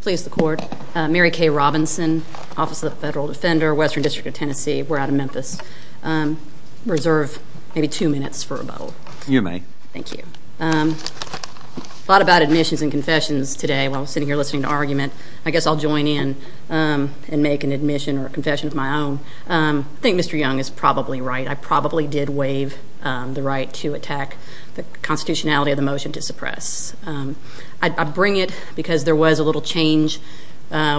Please the court. Mary Kay Robinson, Office of the Federal Defender, Western District of Tennessee. We're out of Memphis. Reserve maybe two minutes for rebuttal. You may. Thank you. I thought about admissions and confessions today while sitting here listening to argument. I guess I'll join in and make an admission or confession of my own. I think Mr. Young is probably right. I probably did waive the right to attack the constitutionality of the motion to suppress. I bring it because there was a little change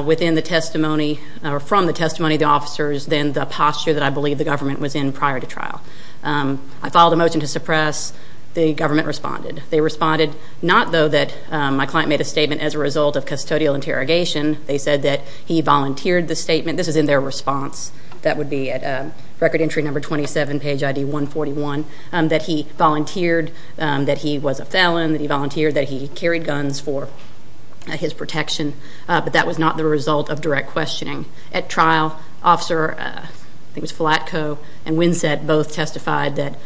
within the testimony or from the testimony of the officers than the posture that I believe the government was in prior to trial. I filed a motion to suppress. The government responded. They responded not though that my client made a statement as a result of custodial interrogation. They said that he volunteered the statement. This is in their response. That would be at record entry number 27, page ID 141. That he volunteered, that he was a felon, that he volunteered, that he carried guns for his protection. But that was not the result of direct questioning. At trial, Officer, I think it was Flatco and Winsett both testified that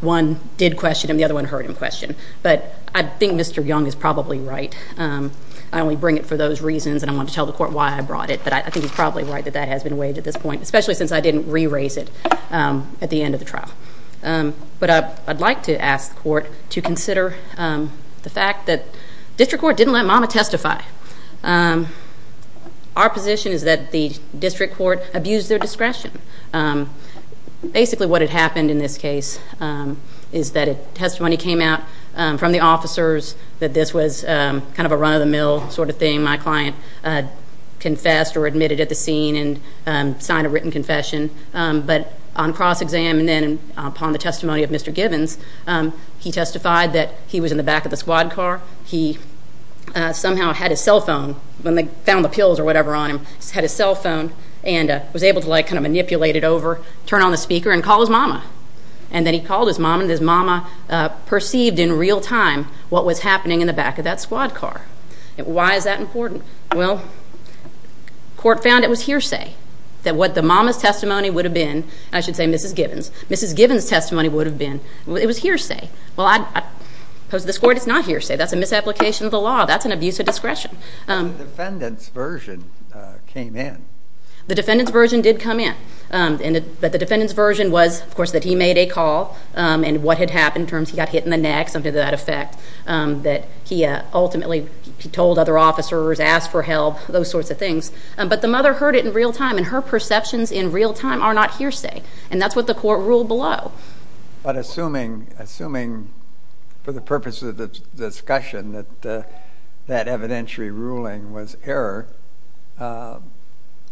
one did question and the other one heard him question. But I think Mr. Young is probably right. I only bring it for those reasons and I want to tell the court why I brought it. But I think he's probably right that that has been waived at this point, especially since I didn't re-raise it at the end of the trial. But I'd like to ask the court to consider the fact that district court didn't let Mama testify. Our position is that the district court abused their discretion. Basically what had happened in this case is that a testimony came out from the officers that this was kind of a run-of-the-mill sort of thing. My client confessed or admitted at the scene and signed a written confession. But on cross-exam and then upon the testimony of Mr. Givens, he testified that he was in the back of the squad car. He somehow had his cell phone when they found the pills or whatever on him. He had his cell phone and was able to kind of manipulate it over, turn on the speaker and call his mama. And then he called his mama and his mama perceived in real time what was happening in the back of that squad car. Why is that important? Well, court found it was hearsay that what the mama's testimony would have been. I should say Mrs. Givens. Mrs. Givens' testimony would have been. It was hearsay. Well, I oppose this court. It's not hearsay. That's a misapplication of the law. That's an abuse of discretion. But the defendant's version came in. The defendant's version did come in. But the defendant's version was, of course, that he made a call and what had happened in terms he got hit in the neck, something to that effect, that he ultimately told other officers, asked for help, those sorts of things. But the mother heard it in real time, and her perceptions in real time are not hearsay. And that's what the court ruled below. But assuming for the purpose of the discussion that that evidentiary ruling was error,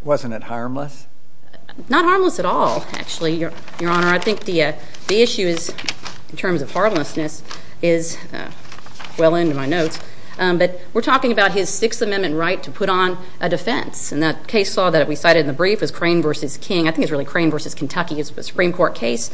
wasn't it harmless? Not harmless at all, actually, Your Honor. I think the issue is, in terms of harmlessness, is well into my notes. But we're talking about his Sixth Amendment right to put on a defense. And that case law that we cited in the brief is Crane v. King. I think it's really Crane v. Kentucky. It's a Supreme Court case.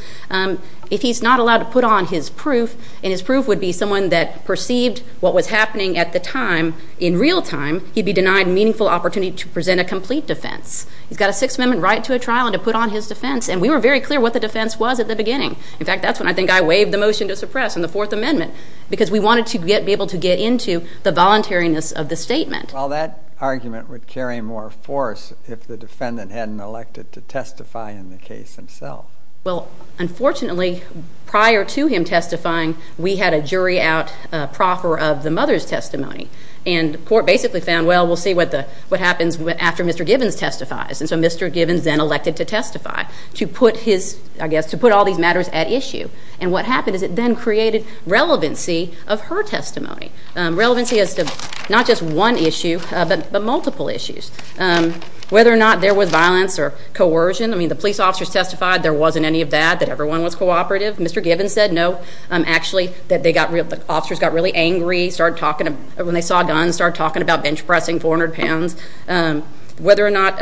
If he's not allowed to put on his proof, and his proof would be someone that perceived what was happening at the time in real time, he'd be denied meaningful opportunity to present a complete defense. He's got a Sixth Amendment right to a trial and to put on his defense. And we were very clear what the defense was at the beginning. In fact, that's when I think I waived the motion to suppress in the Fourth Amendment because we wanted to be able to get into the voluntariness of the statement. Well, that argument would carry more force if the defendant hadn't elected to testify in the case himself. Well, unfortunately, prior to him testifying, we had a jury out, a proffer of the mother's testimony. And the court basically found, well, we'll see what happens after Mr. Givens testifies. And so Mr. Givens then elected to testify to put his, I guess, to put all these matters at issue. And what happened is it then created relevancy of her testimony, relevancy as to not just one issue but multiple issues, whether or not there was violence or coercion. I mean, the police officers testified there wasn't any of that, that everyone was cooperative. Mr. Givens said no. Actually, the officers got really angry when they saw guns, started talking about bench pressing 400 pounds. Whether or not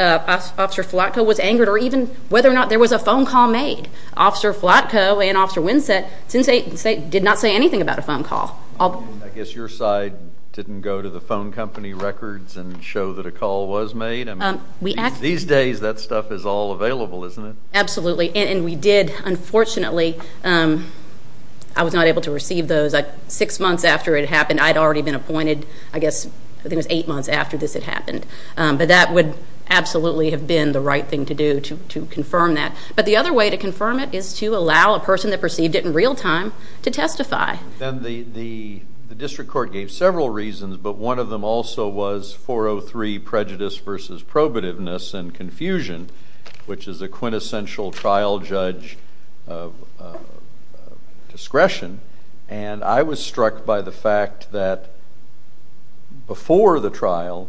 Officer Flotko was angered or even whether or not there was a phone call made, Officer Flotko and Officer Winsett did not say anything about a phone call. I guess your side didn't go to the phone company records and show that a call was made. I mean, these days that stuff is all available, isn't it? Absolutely, and we did. Unfortunately, I was not able to receive those. Six months after it happened, I'd already been appointed, I guess, I think it was eight months after this had happened. But that would absolutely have been the right thing to do to confirm that. But the other way to confirm it is to allow a person that perceived it in real time to testify. The district court gave several reasons, but one of them also was 403, prejudice versus probativeness and confusion, which is a quintessential trial judge discretion. And I was struck by the fact that before the trial,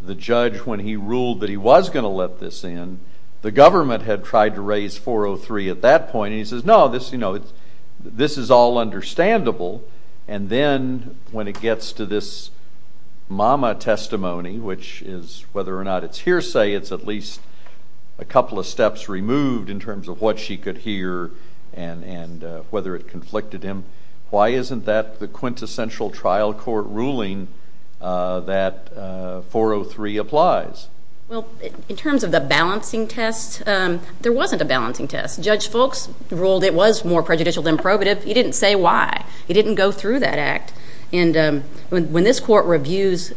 the judge, when he ruled that he was going to let this in, the government had tried to raise 403 at that point, and he says, no, this is all understandable. And then when it gets to this mama testimony, which is whether or not it's hearsay, it's at least a couple of steps removed in terms of what she could hear and whether it conflicted him. Why isn't that the quintessential trial court ruling that 403 applies? Well, in terms of the balancing test, there wasn't a balancing test. Judge Foulkes ruled it was more prejudicial than probative. He didn't say why. He didn't go through that act. And when this court reviews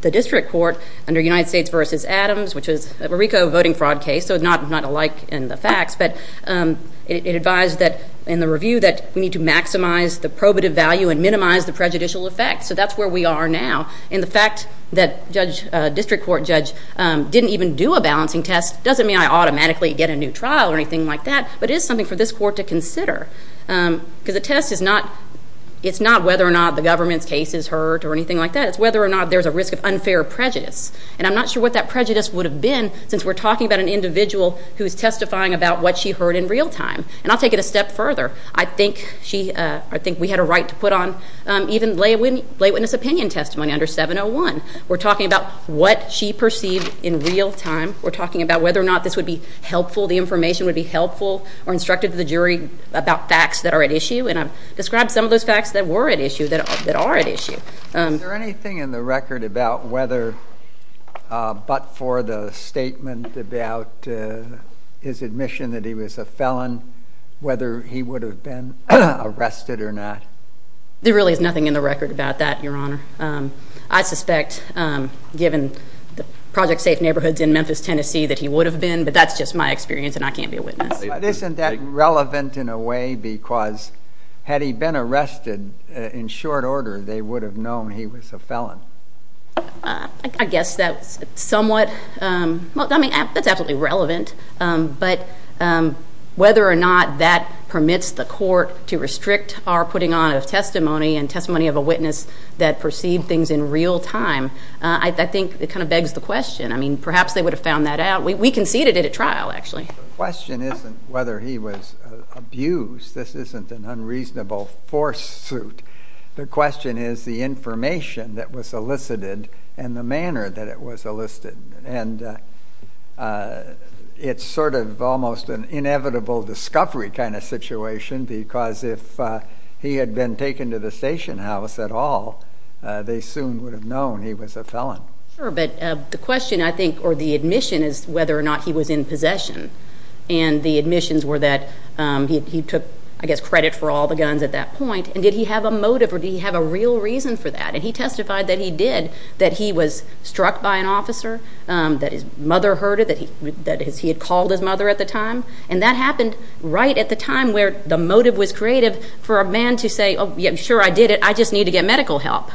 the district court under United States versus Adams, which is a RICO voting fraud case, so not alike in the facts, but it advised that in the review that we need to maximize the probative value and minimize the prejudicial effect. So that's where we are now. And the fact that a district court judge didn't even do a balancing test doesn't mean I automatically get a new trial or anything like that, because the test is not whether or not the government's case is heard or anything like that. It's whether or not there's a risk of unfair prejudice. And I'm not sure what that prejudice would have been since we're talking about an individual who is testifying about what she heard in real time. And I'll take it a step further. I think we had a right to put on even lay witness opinion testimony under 701. We're talking about what she perceived in real time. We're talking about whether or not this would be helpful, the information would be helpful or instructive to the jury about facts that are at issue. And I've described some of those facts that were at issue, that are at issue. Is there anything in the record about whether but for the statement about his admission that he was a felon, whether he would have been arrested or not? There really is nothing in the record about that, Your Honor. I suspect, given the project safe neighborhoods in Memphis, Tennessee, that he would have been. But that's just my experience, and I can't be a witness. But isn't that relevant in a way? Because had he been arrested in short order, they would have known he was a felon. I guess that's somewhat. I mean, that's absolutely relevant. But whether or not that permits the court to restrict our putting on of testimony and testimony of a witness that perceived things in real time, I think it kind of begs the question. I mean, perhaps they would have found that out. We conceded it at trial, actually. The question isn't whether he was abused. This isn't an unreasonable force suit. The question is the information that was elicited and the manner that it was elicited. And it's sort of almost an inevitable discovery kind of situation, because if he had been taken to the station house at all, they soon would have known he was a felon. Sure, but the question, I think, or the admission is whether or not he was in possession. And the admissions were that he took, I guess, credit for all the guns at that point. And did he have a motive, or did he have a real reason for that? And he testified that he did, that he was struck by an officer, that his mother heard it, that he had called his mother at the time. And that happened right at the time where the motive was creative for a man to say, oh, yeah, sure, I did it. I just need to get medical help.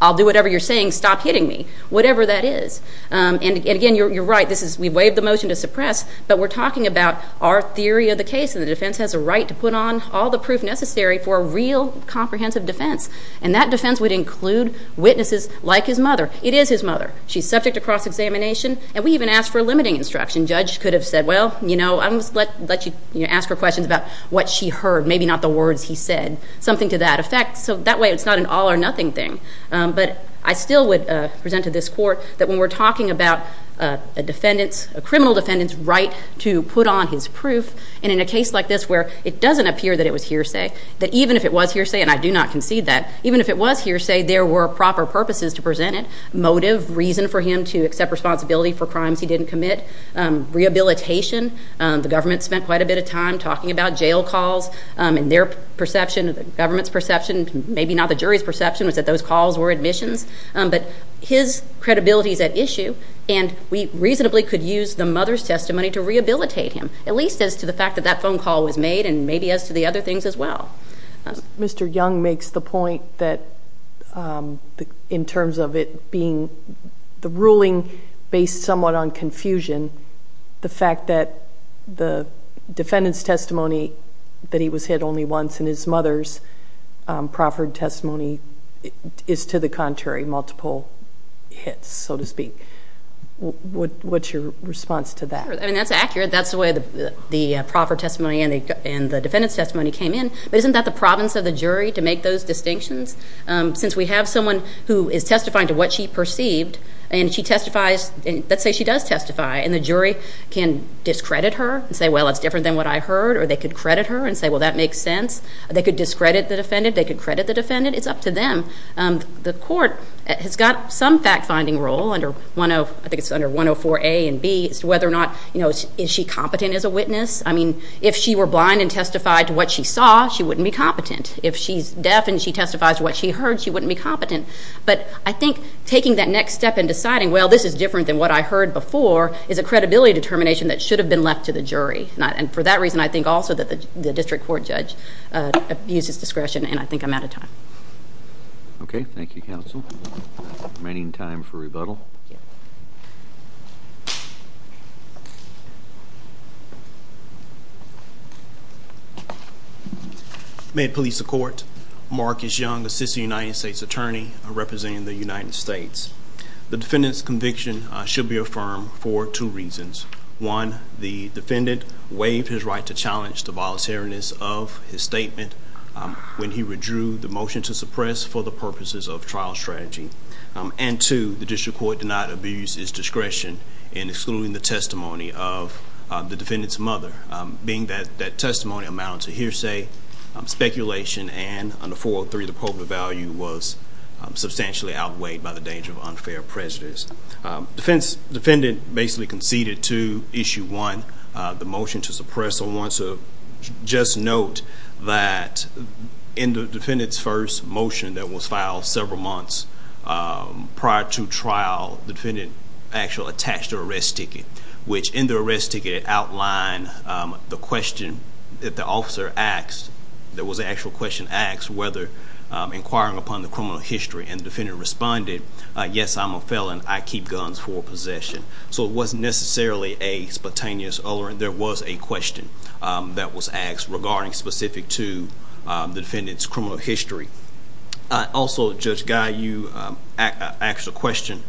I'll do whatever you're saying. Stop hitting me, whatever that is. And, again, you're right. We waived the motion to suppress, but we're talking about our theory of the case. And the defense has a right to put on all the proof necessary for a real comprehensive defense. And that defense would include witnesses like his mother. It is his mother. She's subject to cross-examination, and we even asked for a limiting instruction. Judge could have said, well, you know, I'm going to let you ask her questions about what she heard, maybe not the words he said, something to that effect. So that way it's not an all or nothing thing. But I still would present to this court that when we're talking about a defendant's, a criminal defendant's right to put on his proof, and in a case like this where it doesn't appear that it was hearsay, that even if it was hearsay, and I do not concede that, even if it was hearsay, there were proper purposes to present it. Motive, reason for him to accept responsibility for crimes he didn't commit. Rehabilitation, the government spent quite a bit of time talking about jail calls, and their perception, the government's perception, maybe not the jury's perception, was that those calls were admissions. But his credibility is at issue, and we reasonably could use the mother's testimony to rehabilitate him, at least as to the fact that that phone call was made, and maybe as to the other things as well. Mr. Young makes the point that in terms of it being the ruling based somewhat on confusion, the fact that the defendant's testimony, that he was hit only once, and his mother's proffered testimony is to the contrary, multiple hits, so to speak. What's your response to that? I mean, that's accurate. That's the way the proffered testimony and the defendant's testimony came in. But isn't that the province of the jury to make those distinctions? Since we have someone who is testifying to what she perceived, and she testifies, let's say she does testify, and the jury can discredit her and say, well, it's different than what I heard, or they could credit her and say, well, that makes sense. They could discredit the defendant. They could credit the defendant. It's up to them. The court has got some fact-finding role, I think it's under 104A and B, as to whether or not is she competent as a witness. I mean, if she were blind and testified to what she saw, she wouldn't be competent. If she's deaf and she testifies to what she heard, she wouldn't be competent. But I think taking that next step and deciding, well, this is different than what I heard before, is a credibility determination that should have been left to the jury. And for that reason, I think also that the district court judge abuses discretion, and I think I'm out of time. Okay. Thank you, counsel. Remaining time for rebuttal. May it please the court. Marcus Young, assistant United States attorney, representing the United States. The defendant's conviction should be affirmed for two reasons. One, the defendant waived his right to challenge the voluntariness of his statement when he withdrew the motion to suppress for the purposes of trial strategy. And two, the district court did not abuse his discretion in excluding the testimony of the defendant's mother. Being that that testimony amounts to hearsay, speculation, and under 403, the appropriate value was substantially outweighed by the danger of unfair prejudice. Defendant basically conceded to issue one, the motion to suppress. I want to just note that in the defendant's first motion that was filed several months prior to trial, the defendant actually attached an arrest ticket, which in the arrest ticket outlined the question that the officer asked. There was an actual question asked whether inquiring upon the criminal history, and the defendant responded, yes, I'm a felon. I keep guns for possession. So it wasn't necessarily a spontaneous uller. There was a question that was asked regarding specific to the defendant's criminal history. Also, Judge Guy, you asked a question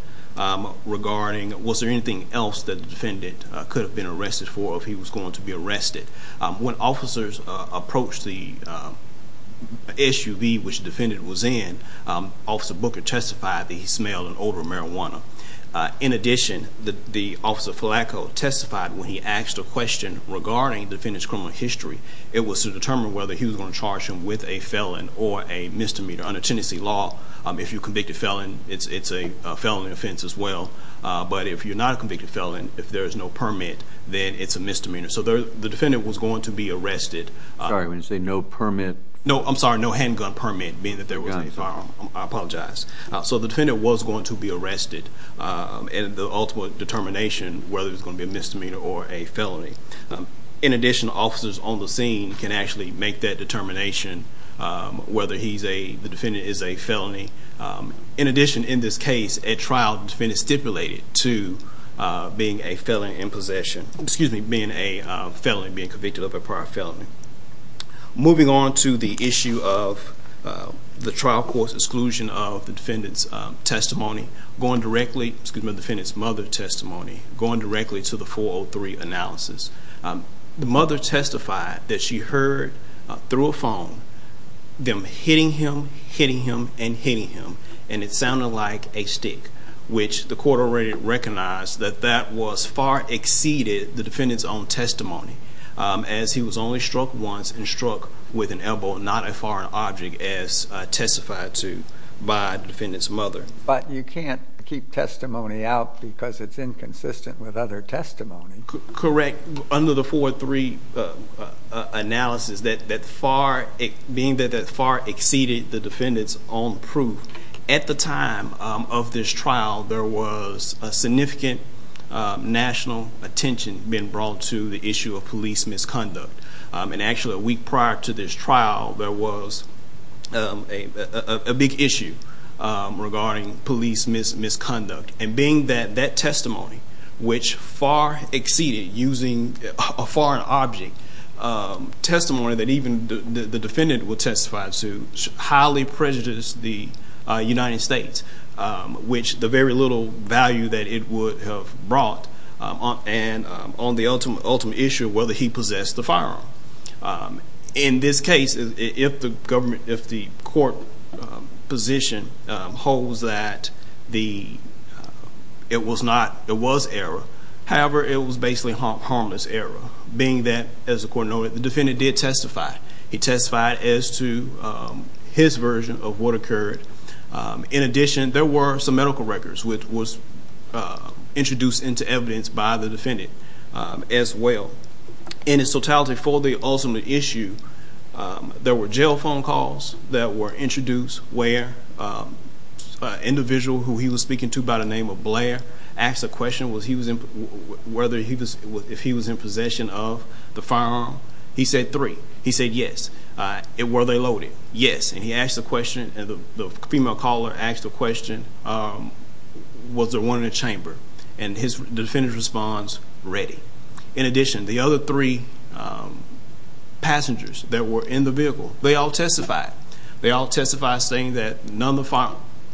regarding was there anything else that the defendant could have been arrested for if he was going to be arrested? When officers approached the SUV which the defendant was in, Officer Booker testified that he smelled an odor of marijuana. In addition, the Officer Filacco testified when he asked a question regarding the defendant's criminal history. It was to determine whether he was going to charge him with a felon or a misdemeanor. Under Tennessee law, if you're a convicted felon, it's a felony offense as well. But if you're not a convicted felon, if there is no permit, then it's a misdemeanor. So the defendant was going to be arrested. Sorry, when you say no permit? No, I'm sorry, no handgun permit, being that there was no firearm. I apologize. So the defendant was going to be arrested, and the ultimate determination whether it was going to be a misdemeanor or a felony. In addition, officers on the scene can actually make that determination whether the defendant is a felony. In addition, in this case, a trial defendant stipulated to being a felon in possession, excuse me, being a felony, being convicted of a prior felony. Moving on to the issue of the trial court's exclusion of the defendant's testimony, going directly, excuse me, the defendant's mother's testimony, going directly to the 403 analysis. The mother testified that she heard through a phone them hitting him, hitting him, and hitting him, and it sounded like a stick, which the court already recognized that that was far exceeded the defendant's own testimony, as he was only struck once and struck with an elbow, not a foreign object, as testified to by the defendant's mother. But you can't keep testimony out because it's inconsistent with other testimony. Correct. Under the 403 analysis, being that that far exceeded the defendant's own proof, at the time of this trial there was a significant national attention being brought to the issue of police misconduct. And actually, a week prior to this trial, there was a big issue regarding police misconduct. And being that that testimony, which far exceeded using a foreign object, testimony that even the defendant would testify to, highly prejudiced the United States, which the very little value that it would have brought on the ultimate issue of whether he possessed the firearm. In this case, if the court position holds that it was error, however, it was basically harmless error. Being that, as the court noted, the defendant did testify. He testified as to his version of what occurred. In addition, there were some medical records, which was introduced into evidence by the defendant as well. In its totality, for the ultimate issue, there were jail phone calls that were introduced where an individual who he was speaking to by the name of Blair asked the question if he was in possession of the firearm. He said three. He said yes. Were they loaded? Yes. And he asked the question, and the female caller asked the question, was there one in the chamber? And the defendant's response, ready. In addition, the other three passengers that were in the vehicle, they all testified. They all testified saying that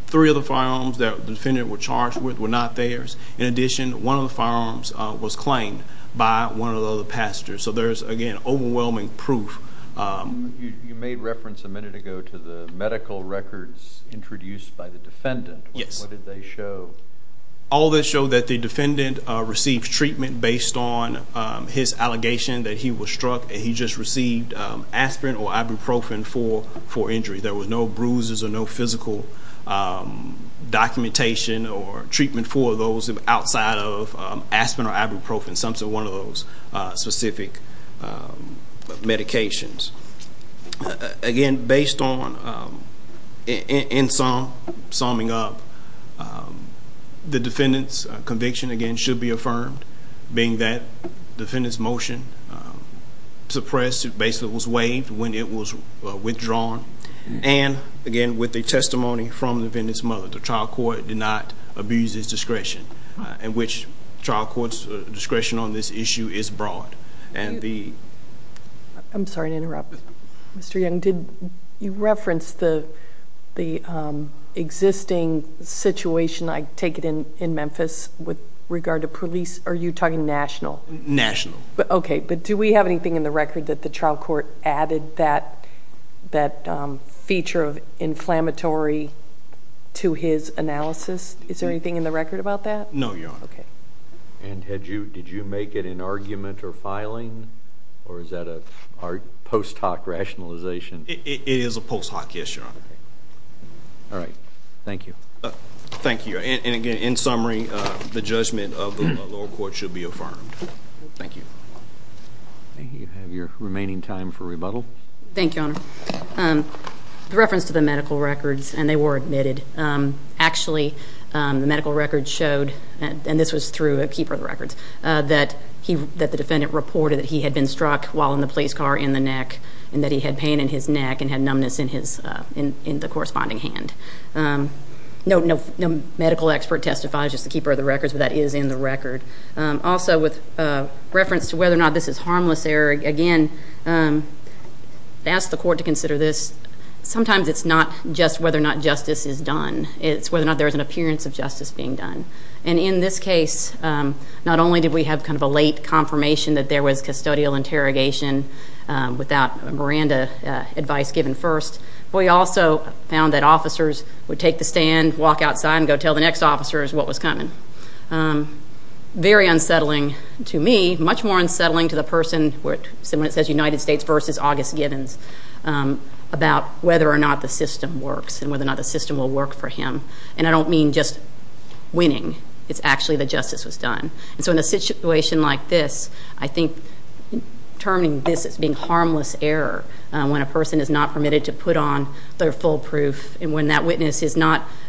three of the firearms that the defendant was charged with were not theirs. In addition, one of the firearms was claimed by one of the other passengers. So there's, again, overwhelming proof. You made reference a minute ago to the medical records introduced by the defendant. Yes. What did they show? All that showed that the defendant received treatment based on his allegation that he was struck and he just received aspirin or ibuprofen for injury. There were no bruises or no physical documentation or treatment for those outside of aspirin or ibuprofen. Some said one of those specific medications. Again, based on, in summing up, the defendant's conviction, again, should be affirmed, being that the defendant's motion suppressed, basically was waived when it was withdrawn, and, again, with the testimony from the defendant's mother. The trial court did not abuse his discretion, in which trial court's discretion on this issue is broad. I'm sorry to interrupt. Mr. Young, you referenced the existing situation, I take it, in Memphis with regard to police. Are you talking national? National. Okay. But do we have anything in the record that the trial court added that feature of inflammatory to his analysis? Is there anything in the record about that? No, Your Honor. Okay. And did you make it an argument or filing, or is that a post hoc rationalization? It is a post hoc issue, Your Honor. All right. Thank you. Thank you. And, again, in summary, the judgment of the lower court should be affirmed. Thank you. You have your remaining time for rebuttal. Thank you, Your Honor. In reference to the medical records, and they were admitted, actually, the medical records showed, and this was through a keeper of the records, that the defendant reported that he had been struck while in the police car in the neck and that he had pain in his neck and had numbness in the corresponding hand. No medical expert testifies, just the keeper of the records, but that is in the record. Also, with reference to whether or not this is harmless error, again, I ask the court to consider this. Sometimes it's not just whether or not justice is done. It's whether or not there is an appearance of justice being done. And in this case, not only did we have kind of a late confirmation that there was custodial interrogation without Miranda advice given first, but we also found that officers would take the stand, walk outside, and go tell the next officers what was coming. Very unsettling to me, much more unsettling to the person, when it says United States v. August Givens, about whether or not the system works and whether or not the system will work for him. And I don't mean just winning. It's actually that justice was done. And so in a situation like this, I think terming this as being harmless error, when a person is not permitted to put on their full proof, and when that witness is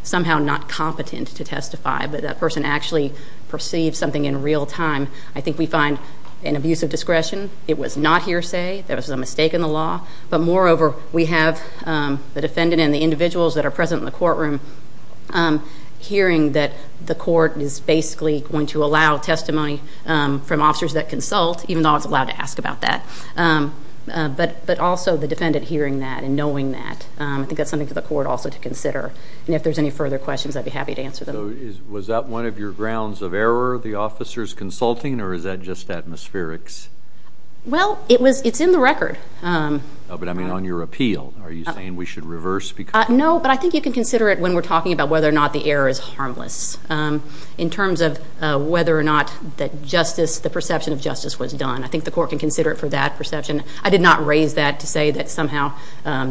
somehow not competent to testify, but that person actually perceived something in real time, I think we find an abuse of discretion. It was not hearsay. There was a mistake in the law. But moreover, we have the defendant and the individuals that are present in the courtroom hearing that the court is basically going to allow testimony from officers that consult, even though it's allowed to ask about that, but also the defendant hearing that and knowing that. I think that's something for the court also to consider. And if there's any further questions, I'd be happy to answer them. So was that one of your grounds of error, the officers consulting, or is that just atmospherics? Well, it's in the record. But I mean on your appeal. Are you saying we should reverse? No, but I think you can consider it when we're talking about whether or not the error is harmless. In terms of whether or not the perception of justice was done, I think the court can consider it for that perception. I did not raise that to say that somehow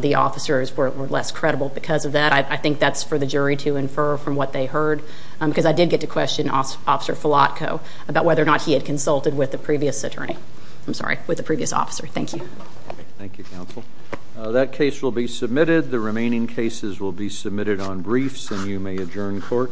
the officers were less credible because of that. But I think that's for the jury to infer from what they heard, because I did get to question Officer Filatko about whether or not he had consulted with the previous attorney. I'm sorry, with the previous officer. Thank you. Thank you, counsel. That case will be submitted. The remaining cases will be submitted on briefs, and you may adjourn court.